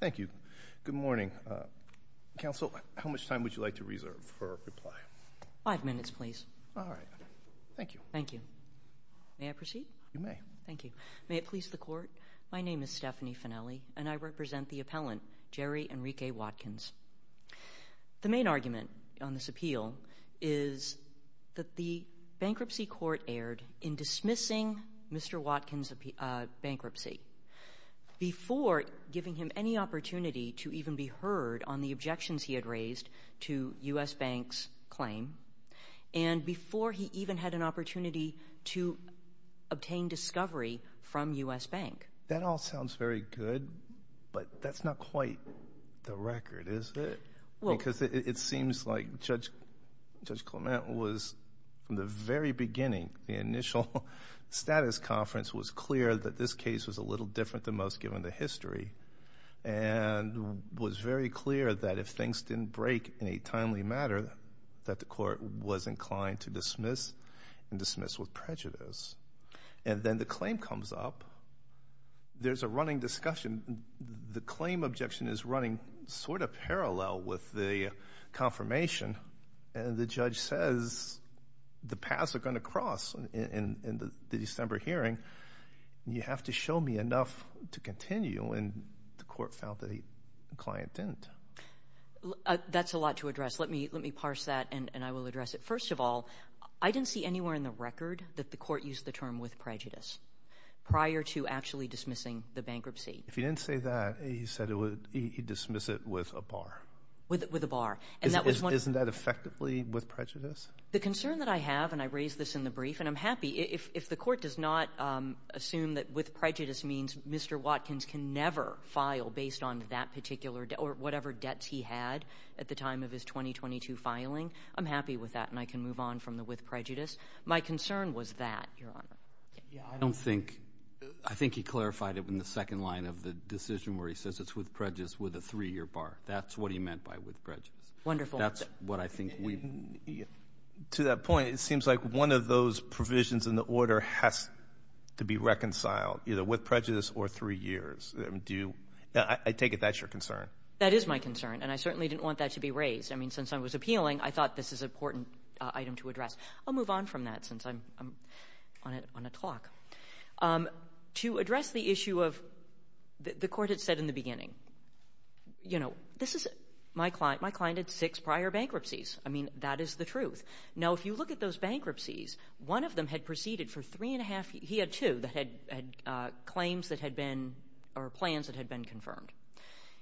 Thank you. Good morning. Counsel, how much time would you like to reserve for a reply? Five minutes, please. All right. Thank you. Thank you. May I proceed? You may. Thank you. May it please the Court, my name is Stephanie Fennelly, and I represent the appellant, Jerry Enrique Watkins. The main argument on this appeal is that the bankruptcy court erred in dismissing Mr. Watkins' bankruptcy before giving him any opportunity to even be heard on the objections he had raised to U.S. Banks' claim and before he even had an opportunity to obtain discovery from U.S. Bank. That all sounds very good, but that's not quite the record, is it? Because it seems like Judge Clement was, from the very beginning, the initial status conference was clear that this case was a little different than most given the history and was very clear that if things didn't break in a timely manner, that the court was inclined to dismiss and dismiss with prejudice. And then the claim comes up. There's a running discussion. The claim objection is running sort of parallel with the confirmation, and the judge says the paths are going to cross in the December hearing, and you have to show me enough to continue, and the court found that the client didn't. That's a lot to address. Let me parse that, and I will address it. First of all, I didn't see anywhere in the record that the court used the term with prejudice prior to actually dismissing the bankruptcy. If he didn't say that, he said he'd dismiss it with a bar. With a bar. Isn't that effectively with prejudice? The concern that I have, and I raised this in the brief, and I'm happy. If the court does not assume that with prejudice means Mr. Watkins can never file based on that particular debt or whatever debts he had at the time of his 2022 filing, I'm happy with that, and I can move on from the with prejudice. My concern was that, Your Honor. I don't think he clarified it in the second line of the decision where he says it's with prejudice with a three-year bar. That's what he meant by with prejudice. Wonderful. That's what I think we need. To that point, it seems like one of those provisions in the order has to be reconciled, either with prejudice or three years. I take it that's your concern. That is my concern, and I certainly didn't want that to be raised. I mean, since I was appealing, I thought this is an important item to address. I'll move on from that since I'm on a clock. To address the issue of the court had said in the beginning, you know, this is my client. My client had six prior bankruptcies. I mean, that is the truth. Now, if you look at those bankruptcies, one of them had proceeded for three and a half. He had two that had claims that had been or plans that had been confirmed.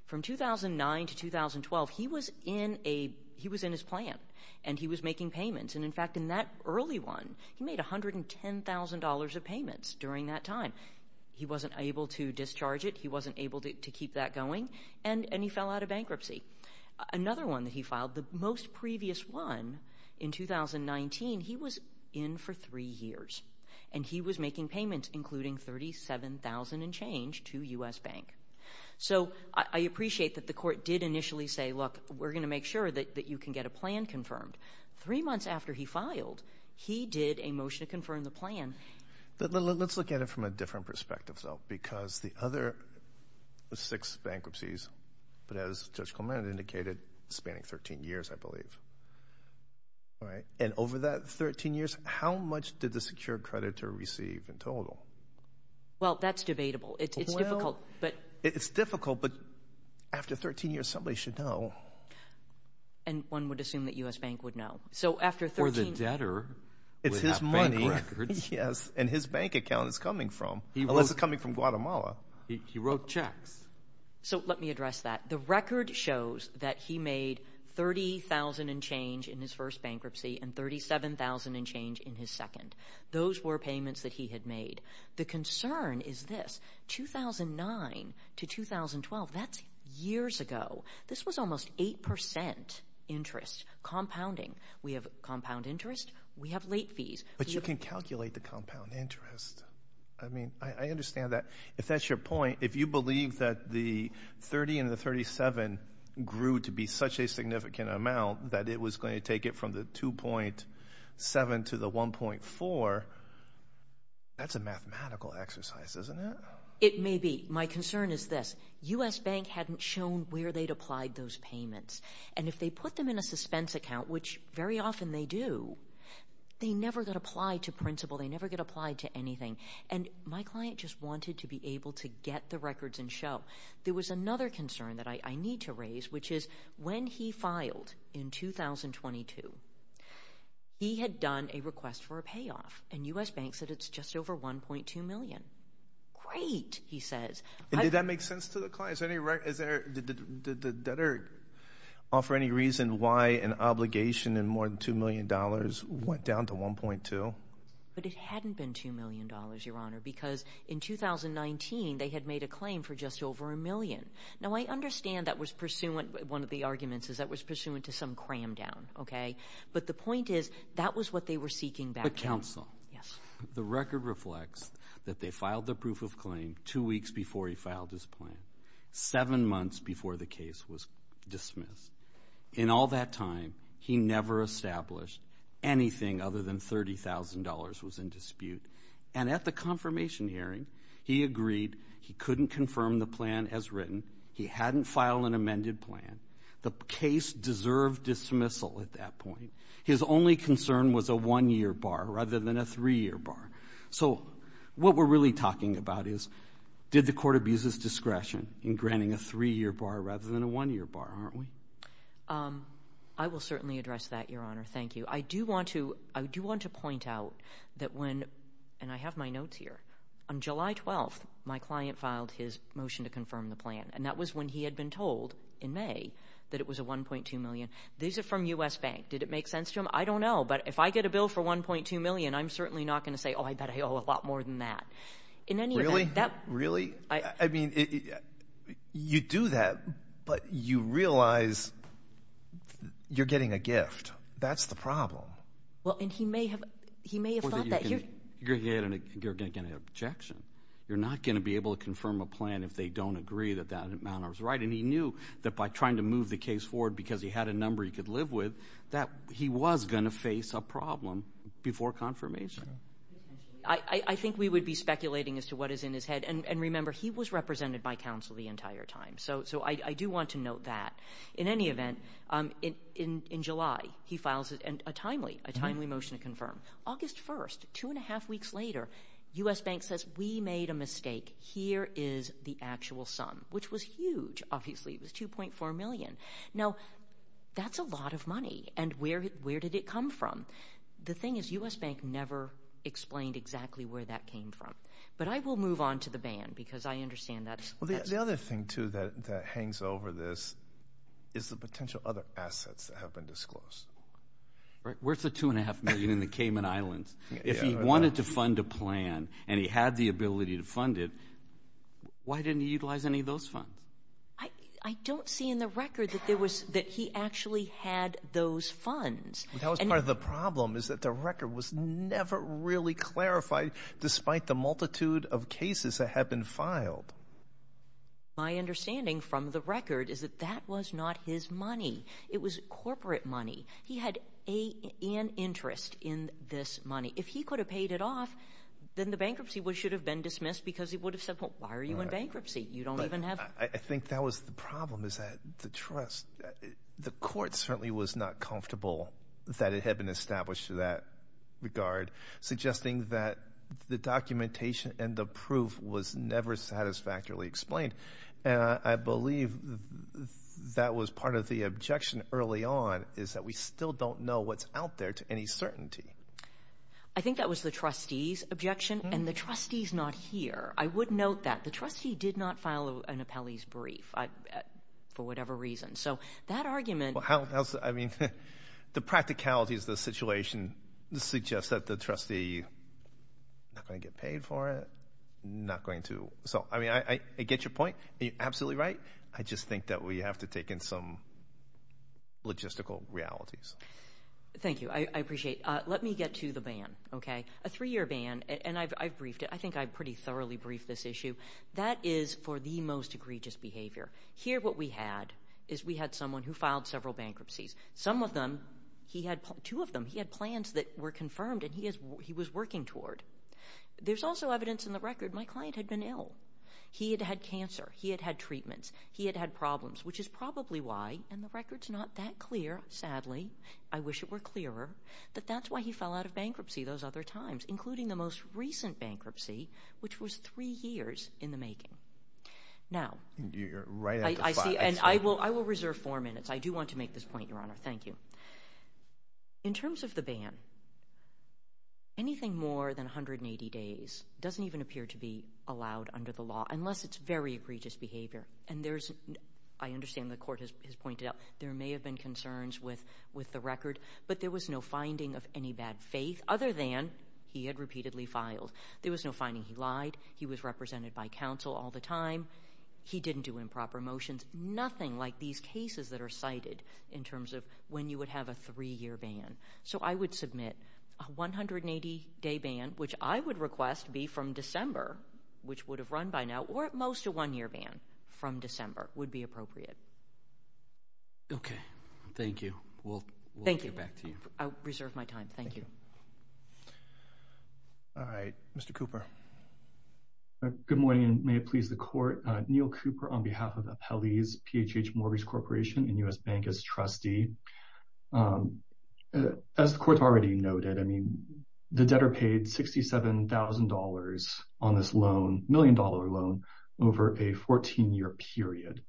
From 2009 to 2012, he was in a he was in his plan, and he was making payments, and, in fact, in that early one, he made $110,000 of payments during that time. He wasn't able to discharge it. He wasn't able to keep that going, and he fell out of bankruptcy. Another one that he filed, the most previous one, in 2019, he was in for three years, and he was making payments, including $37,000 and change to U.S. Bank. So I appreciate that the court did initially say, look, we're going to make sure that you can get a plan confirmed. Three months after he filed, he did a motion to confirm the plan. Let's look at it from a different perspective, though, because the other six bankruptcies, as Judge Clement indicated, spanning 13 years, I believe. And over that 13 years, how much did the secured creditor receive in total? Well, that's debatable. It's difficult, but after 13 years, somebody should know. And one would assume that U.S. Bank would know. Or the debtor would have bank records. It's his money, yes, and his bank account is coming from, unless it's coming from Guatemala. He wrote checks. So let me address that. The record shows that he made $30,000 and change in his first bankruptcy and $37,000 and change in his second. Those were payments that he had made. The concern is this. 2009 to 2012, that's years ago. This was almost 8% interest compounding. We have compound interest. We have late fees. But you can calculate the compound interest. I mean, I understand that. If that's your point, if you believe that the 30 and the 37 grew to be such a significant amount that it was going to take it from the 2.7 to the 1.4, that's a mathematical exercise, isn't it? It may be. My concern is this. The U.S. Bank hadn't shown where they'd applied those payments. And if they put them in a suspense account, which very often they do, they never get applied to principal. They never get applied to anything. And my client just wanted to be able to get the records and show. There was another concern that I need to raise, which is when he filed in 2022, he had done a request for a payoff. And U.S. Bank said it's just over $1.2 million. Great, he says. Did that make sense to the client? Did the debtor offer any reason why an obligation in more than $2 million went down to $1.2? But it hadn't been $2 million, Your Honor, because in 2019 they had made a claim for just over a million. Now, I understand that was pursuant, one of the arguments is that was pursuant to some cram down. But the point is that was what they were seeking back then. The counsel. Yes. The record reflects that they filed the proof of claim two weeks before he filed his plan, seven months before the case was dismissed. In all that time, he never established anything other than $30,000 was in dispute. And at the confirmation hearing, he agreed he couldn't confirm the plan as written. He hadn't filed an amended plan. The case deserved dismissal at that point. His only concern was a one-year bar rather than a three-year bar. So what we're really talking about is did the court abuse his discretion in granting a three-year bar rather than a one-year bar, aren't we? I will certainly address that, Your Honor. Thank you. I do want to point out that when, and I have my notes here, on July 12th, my client filed his motion to confirm the plan. And that was when he had been told in May that it was a $1.2 million. These are from U.S. Bank. Did it make sense to him? I don't know. But if I get a bill for $1.2 million, I'm certainly not going to say, oh, I bet I owe a lot more than that. Really? Really? I mean, you do that, but you realize you're getting a gift. That's the problem. Well, and he may have thought that. You're going to get an objection. You're not going to be able to confirm a plan if they don't agree that that amount is right. And he knew that by trying to move the case forward because he had a number he could live with, that he was going to face a problem before confirmation. I think we would be speculating as to what is in his head. And remember, he was represented by counsel the entire time. So I do want to note that. In any event, in July, he files a timely motion to confirm. August 1st, two and a half weeks later, U.S. Bank says, we made a mistake. Here is the actual sum, which was huge, obviously. It was $2.4 million. Now, that's a lot of money. And where did it come from? The thing is, U.S. Bank never explained exactly where that came from. But I will move on to the ban because I understand that. Well, the other thing, too, that hangs over this is the potential other assets that have been disclosed. Where's the $2.5 million in the Cayman Islands? If he wanted to fund a plan and he had the ability to fund it, why didn't he utilize any of those funds? I don't see in the record that he actually had those funds. That was part of the problem is that the record was never really clarified, despite the multitude of cases that have been filed. My understanding from the record is that that was not his money. It was corporate money. He had an interest in this money. If he could have paid it off, then the bankruptcy should have been dismissed because he would have said, well, why are you in bankruptcy? You don't even have – I think that was the problem is that the trust – the court certainly was not comfortable that it had been established in that regard, suggesting that the documentation and the proof was never satisfactorily explained. I believe that was part of the objection early on is that we still don't know what's out there to any certainty. I think that was the trustee's objection, and the trustee's not here. I would note that. The trustee did not file an appellee's brief for whatever reason. So that argument – I mean, the practicalities of the situation suggests that the trustee is not going to get paid for it, not going to. So, I mean, I get your point. You're absolutely right. I just think that we have to take in some logistical realities. Thank you. I appreciate it. Let me get to the ban, okay? A three-year ban, and I've briefed it. I think I pretty thoroughly briefed this issue. That is for the most egregious behavior. Here what we had is we had someone who filed several bankruptcies. Some of them – he had two of them. He had plans that were confirmed, and he was working toward. There's also evidence in the record my client had been ill. He had had cancer. He had had treatments. He had had problems, which is probably why – and the record's not that clear, sadly. I wish it were clearer. But that's why he fell out of bankruptcy those other times, including the most recent bankruptcy, which was three years in the making. Now – You're right on the spot. I see, and I will reserve four minutes. I do want to make this point, Your Honor. Thank you. In terms of the ban, anything more than 180 days doesn't even appear to be allowed under the law unless it's very egregious behavior. And there's – I understand the court has pointed out there may have been concerns with the record, but there was no finding of any bad faith other than he had repeatedly filed. There was no finding he lied. He was represented by counsel all the time. He didn't do improper motions. There's nothing like these cases that are cited in terms of when you would have a three-year ban. So I would submit a 180-day ban, which I would request be from December, which would have run by now, or at most a one-year ban from December would be appropriate. Okay. Thank you. We'll get back to you. Thank you. I'll reserve my time. Thank you. All right. Mr. Cooper. Good morning, and may it please the Court. Neil Cooper on behalf of Appellees, PHH Mortgage Corporation and U.S. Bank as trustee. As the Court already noted, I mean, the debtor paid $67,000 on this loan, million-dollar loan, over a 14-year period.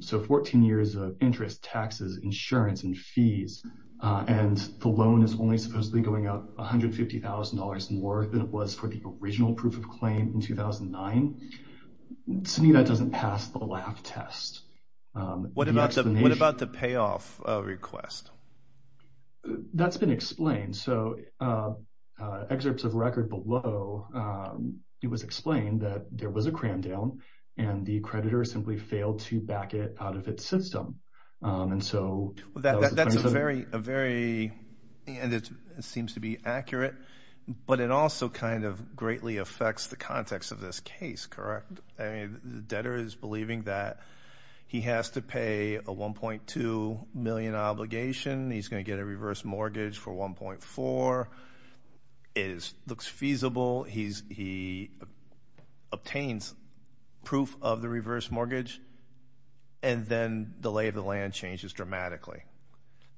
So 14 years of interest, taxes, insurance, and fees, and the loan is only supposedly going up $150,000 more than it was for the original proof of claim in 2009. Senita doesn't pass the laugh test. What about the payoff request? That's been explained. So excerpts of record below, it was explained that there was a cram down, and the creditor simply failed to back it out of its system. That seems to be accurate, but it also kind of greatly affects the context of this case, correct? I mean, the debtor is believing that he has to pay a $1.2 million obligation. He's going to get a reverse mortgage for $1.4. It looks feasible. He obtains proof of the reverse mortgage, and then delay of the land changes dramatically.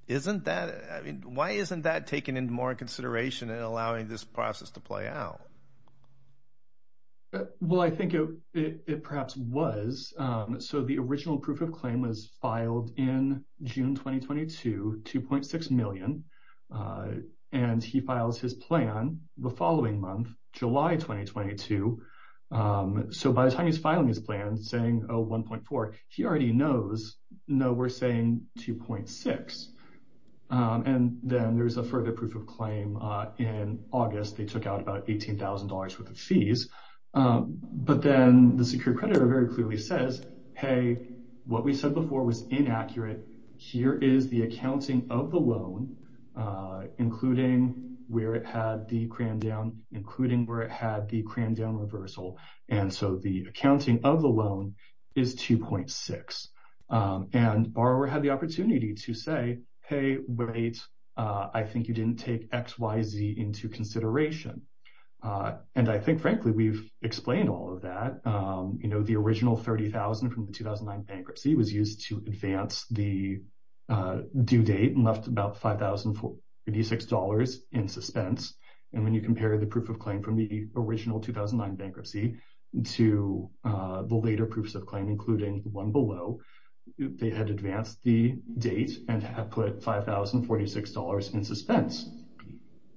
Isn't that – I mean, why isn't that taken into more consideration in allowing this process to play out? Well, I think it perhaps was. So the original proof of claim was filed in June 2022, $2.6 million, and he files his plan the following month, July 2022. So by the time he's filing his plan saying, oh, $1.4, he already knows, no, we're saying $2.6. And then there's a further proof of claim in August. They took out about $18,000 worth of fees. But then the secure creditor very clearly says, hey, what we said before was inaccurate. Here is the accounting of the loan, including where it had the crammed down reversal. And so the accounting of the loan is $2.6. And borrower had the opportunity to say, hey, wait, I think you didn't take XYZ into consideration. And I think, frankly, we've explained all of that. You know, the original $30,000 from the 2009 bankruptcy was used to advance the due date and left about $5,046 in suspense. And when you compare the proof of claim from the original 2009 bankruptcy to the later proofs of claim, including the one below, they had advanced the date and had put $5,046 in suspense.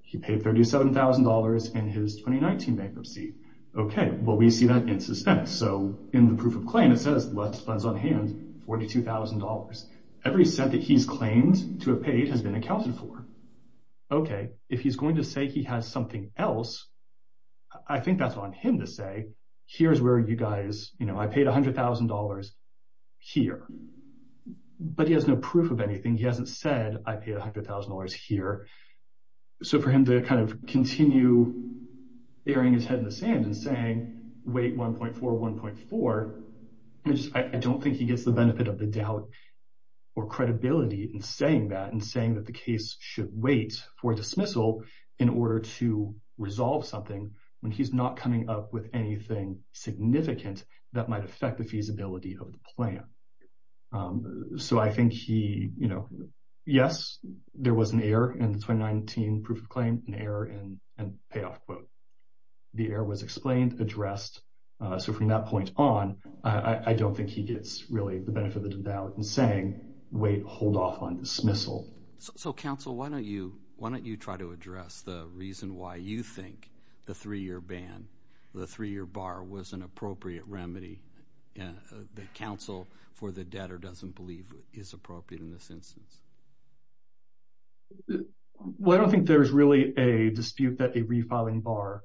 He paid $37,000 in his 2019 bankruptcy. Okay, well, we see that in suspense. So in the proof of claim, it says, less funds on hand, $42,000. Every cent that he's claimed to have paid has been accounted for. Okay, if he's going to say he has something else, I think that's on him to say, here's where you guys, you know, I paid $100,000 here. But he has no proof of anything. He hasn't said, I paid $100,000 here. So for him to kind of continue airing his head in the sand and saying, wait, 1.4, 1.4, I don't think he gets the benefit of the doubt or credibility in saying that and saying that the case should wait for dismissal in order to resolve something when he's not coming up with anything significant that might affect the feasibility of the plan. So I think he, you know, yes, there was an error in the 2019 proof of claim, an error in the payoff quote. The error was explained, addressed. So from that point on, I don't think he gets really the benefit of the doubt in saying, wait, hold off on dismissal. So, counsel, why don't you, why don't you try to address the reason why you think the three-year ban, the three-year bar was an appropriate remedy? The counsel for the debtor doesn't believe is appropriate in this instance. Well, I don't think there's really a dispute that a refiling bar,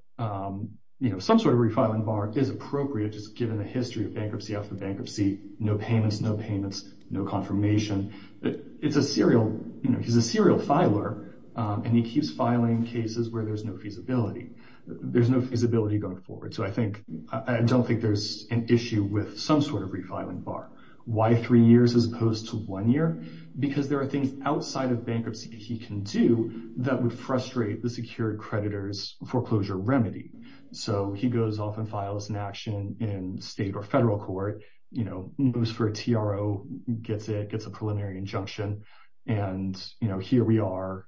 you know, some sort of refiling bar is appropriate just given the history of bankruptcy after bankruptcy. No payments, no payments, no confirmation. It's a serial, you know, he's a serial filer, and he keeps filing cases where there's no feasibility. There's no feasibility going forward. So I think, I don't think there's an issue with some sort of refiling bar. Why three years as opposed to one year? Because there are things outside of bankruptcy he can do that would frustrate the secured creditor's foreclosure remedy. So he goes off and files an action in state or federal court, you know, moves for a TRO, gets it, gets a preliminary injunction. And, you know, here we are,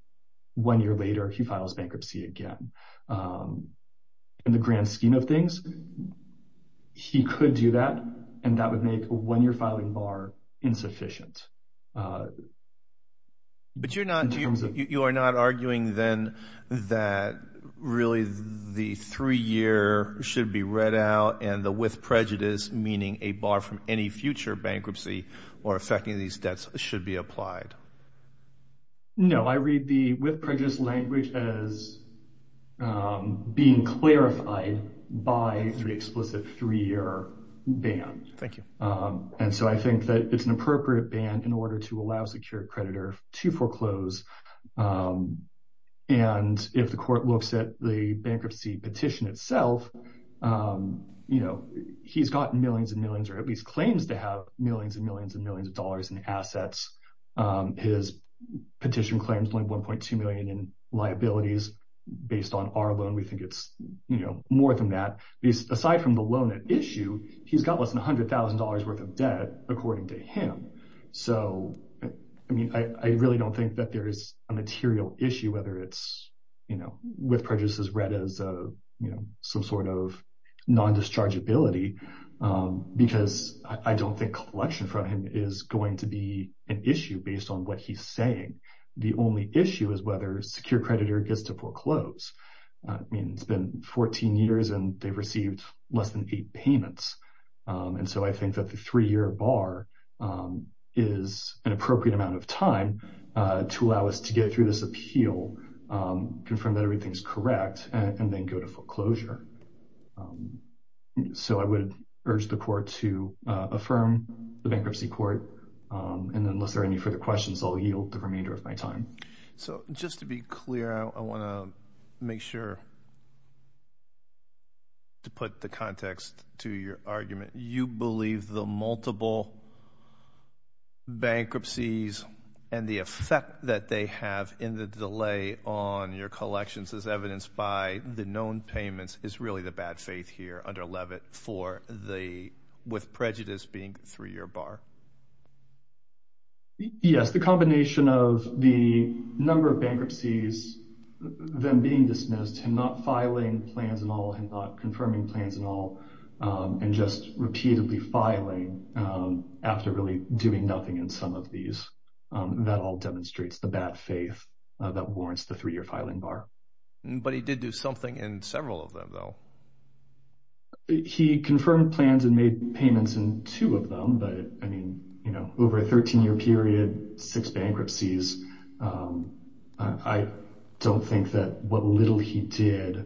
one year later, he files bankruptcy again. In the grand scheme of things, he could do that, and that would make a one-year filing bar insufficient. But you're not arguing then that really the three-year should be read out and the with prejudice, meaning a bar from any future bankruptcy or affecting these debts, should be applied? No, I read the with prejudice language as being clarified by the explicit three-year ban. Thank you. And so I think that it's an appropriate ban in order to allow a secured creditor to foreclose. And if the court looks at the bankruptcy petition itself, you know, he's gotten millions and millions, or at least claims to have millions and millions and millions of dollars in assets. His petition claims only $1.2 million in liabilities based on our loan. We think it's, you know, more than that. Aside from the loan at issue, he's got less than $100,000 worth of debt, according to him. So, I mean, I really don't think that there is a material issue, whether it's, you know, with prejudice is read as, you know, some sort of non-dischargeability. Because I don't think collection from him is going to be an issue based on what he's saying. The only issue is whether a secured creditor gets to foreclose. I mean, it's been 14 years and they've received less than eight payments. And so I think that the three-year bar is an appropriate amount of time to allow us to get through this appeal, confirm that everything's correct, and then go to foreclosure. So I would urge the court to affirm the bankruptcy court. And then unless there are any further questions, I'll yield the remainder of my time. So just to be clear, I want to make sure to put the context to your argument. You believe the multiple bankruptcies and the effect that they have in the delay on your collections as evidenced by the known payments is really the bad faith here under Levitt with prejudice being the three-year bar? Yes, the combination of the number of bankruptcies, them being dismissed, him not filing plans at all, him not confirming plans at all, and just repeatedly filing after really doing nothing in some of these, that all demonstrates the bad faith that warrants the three-year filing bar. But he did do something in several of them, though. He confirmed plans and made payments in two of them, but I mean, you know, over a 13-year period, six bankruptcies, I don't think that what little he did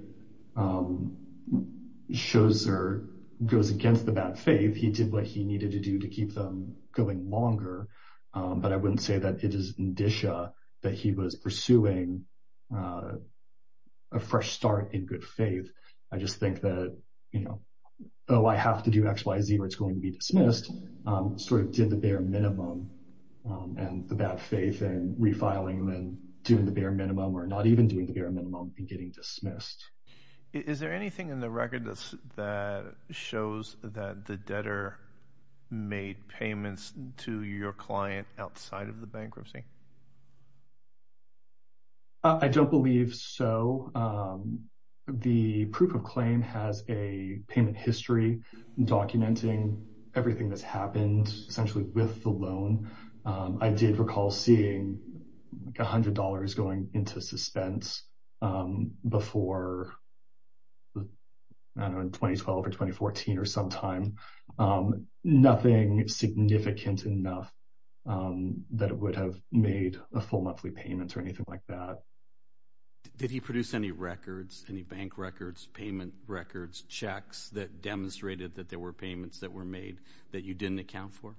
shows or goes against the bad faith. He did what he needed to do to keep them going longer. But I wouldn't say that it is indicia that he was pursuing a fresh start in good faith. I just think that, you know, oh, I have to do X, Y, Z or it's going to be dismissed, sort of did the bare minimum and the bad faith and refiling and doing the bare minimum or not even doing the bare minimum and getting dismissed. Is there anything in the record that shows that the debtor made payments to your client outside of the bankruptcy? I don't believe so. The proof of claim has a payment history documenting everything that's happened essentially with the loan. I did recall seeing $100 going into suspense before 2012 or 2014 or sometime. Nothing significant enough that it would have made a full monthly payment or anything like that. Did he produce any records, any bank records, payment records, checks that demonstrated that there were payments that were made that you didn't account for?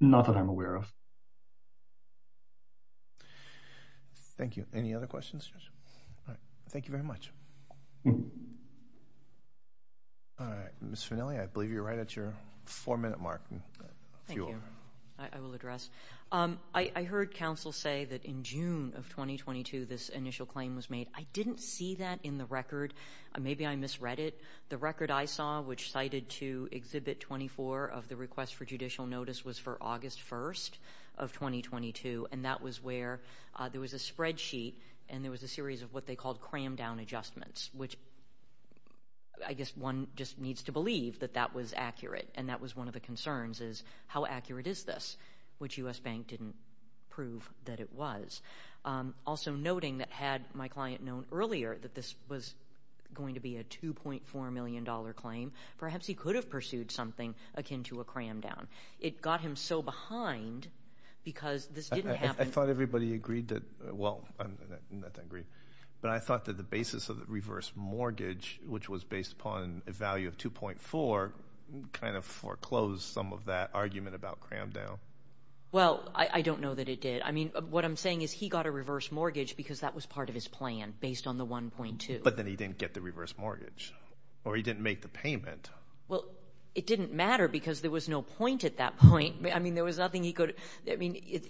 Not that I'm aware of. Thank you. Any other questions? Thank you very much. Ms. Fanelli, I believe you're right at your four-minute mark. Thank you. I will address. I heard counsel say that in June of 2022, this initial claim was made. I didn't see that in the record. Maybe I misread it. The record I saw which cited to Exhibit 24 of the request for judicial notice was for August 1st of 2022, and that was where there was a spreadsheet and there was a series of what they called crammed-down adjustments, which I guess one just needs to believe that that was accurate, and that was one of the concerns is how accurate is this, which U.S. Bank didn't prove that it was. Also noting that had my client known earlier that this was going to be a $2.4 million claim, perhaps he could have pursued something akin to a crammed-down. It got him so behind because this didn't happen. I thought everybody agreed that – well, I'm not that aggrieved, but I thought that the basis of the reverse mortgage, which was based upon a value of 2.4, kind of foreclosed some of that argument about crammed-down. Well, I don't know that it did. I mean, what I'm saying is he got a reverse mortgage because that was part of his plan based on the 1.2. But then he didn't get the reverse mortgage or he didn't make the payment. Well, it didn't matter because there was no point at that point. I mean, there was nothing he could – I mean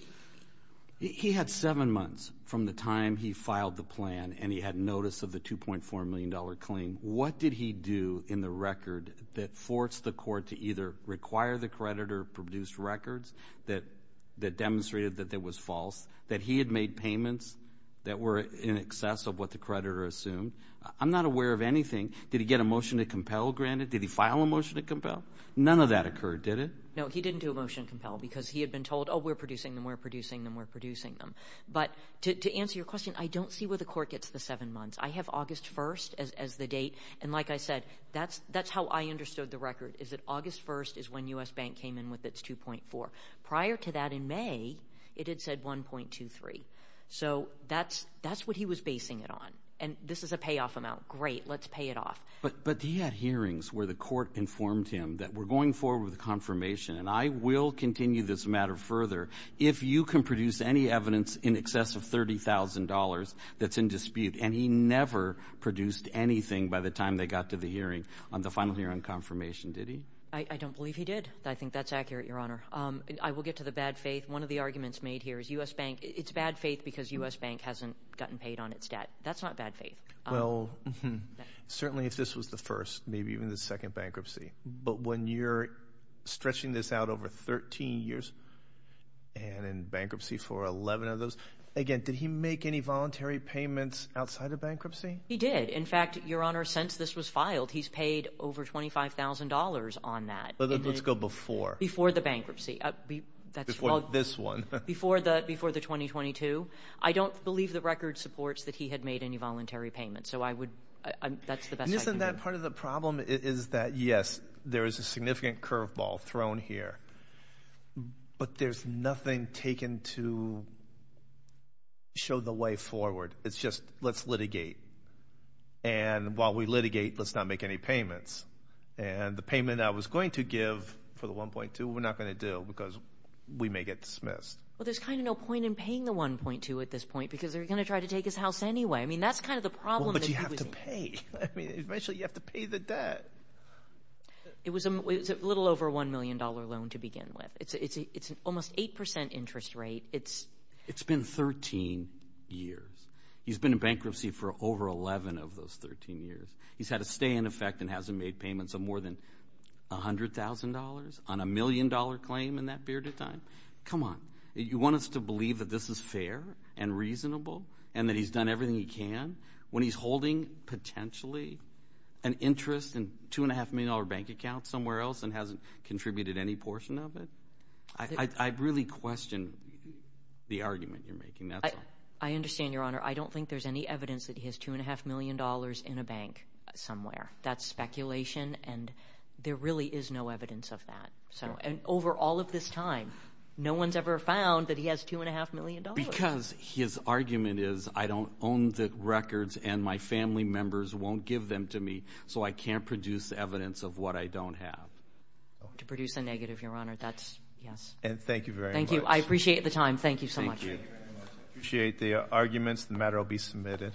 – He had seven months from the time he filed the plan and he had notice of the $2.4 million claim. What did he do in the record that forced the court to either require the credit or produce records that demonstrated that that was false, that he had made payments that were in excess of what the creditor assumed? I'm not aware of anything. Did he get a motion to compel granted? Did he file a motion to compel? None of that occurred, did it? No, he didn't do a motion to compel because he had been told, oh, we're producing them, we're producing them, we're producing them. But to answer your question, I don't see where the court gets the seven months. I have August 1st as the date, and like I said, that's how I understood the record, is that August 1st is when U.S. Bank came in with its $2.4 million. Prior to that in May, it had said $1.23 million. So that's what he was basing it on. And this is a payoff amount. Great, let's pay it off. But he had hearings where the court informed him that we're going forward with the confirmation, and I will continue this matter further, if you can produce any evidence in excess of $30,000 that's in dispute. And he never produced anything by the time they got to the hearing on the final hearing confirmation, did he? I don't believe he did. I think that's accurate, Your Honor. I will get to the bad faith. One of the arguments made here is U.S. Bank, it's bad faith because U.S. Bank hasn't gotten paid on its debt. That's not bad faith. Well, certainly if this was the first, maybe even the second bankruptcy. But when you're stretching this out over 13 years, and in bankruptcy for 11 of those, again, did he make any voluntary payments outside of bankruptcy? He did. In fact, Your Honor, since this was filed, he's paid over $25,000 on that. Let's go before. Before the bankruptcy. Before this one. Before the 2022. I don't believe the record supports that he had made any voluntary payments. So I would, that's the best I can do. And isn't that part of the problem is that, yes, there is a significant curveball thrown here. But there's nothing taken to show the way forward. It's just, let's litigate. And while we litigate, let's not make any payments. And the payment I was going to give for the 1.2, we're not going to do because we may get dismissed. Well, there's kind of no point in paying the 1.2 at this point because they're going to try to take his house anyway. I mean, that's kind of the problem. Well, but you have to pay. I mean, eventually you have to pay the debt. It was a little over $1 million loan to begin with. It's an almost 8 percent interest rate. It's been 13 years. He's been in bankruptcy for over 11 of those 13 years. He's had a stay in effect and hasn't made payments of more than $100,000 on a million-dollar claim in that period of time. Come on. You want us to believe that this is fair and reasonable and that he's done everything he can when he's holding potentially an interest in a $2.5 million bank account somewhere else and hasn't contributed any portion of it? I really question the argument you're making. I understand, Your Honor. I don't think there's any evidence that he has $2.5 million in a bank somewhere. That's speculation, and there really is no evidence of that. And over all of this time, no one's ever found that he has $2.5 million. Because his argument is, I don't own the records, and my family members won't give them to me, so I can't produce evidence of what I don't have. To produce a negative, Your Honor, that's yes. And thank you very much. Thank you. I appreciate the time. Thank you so much. I appreciate the arguments. The matter will be submitted.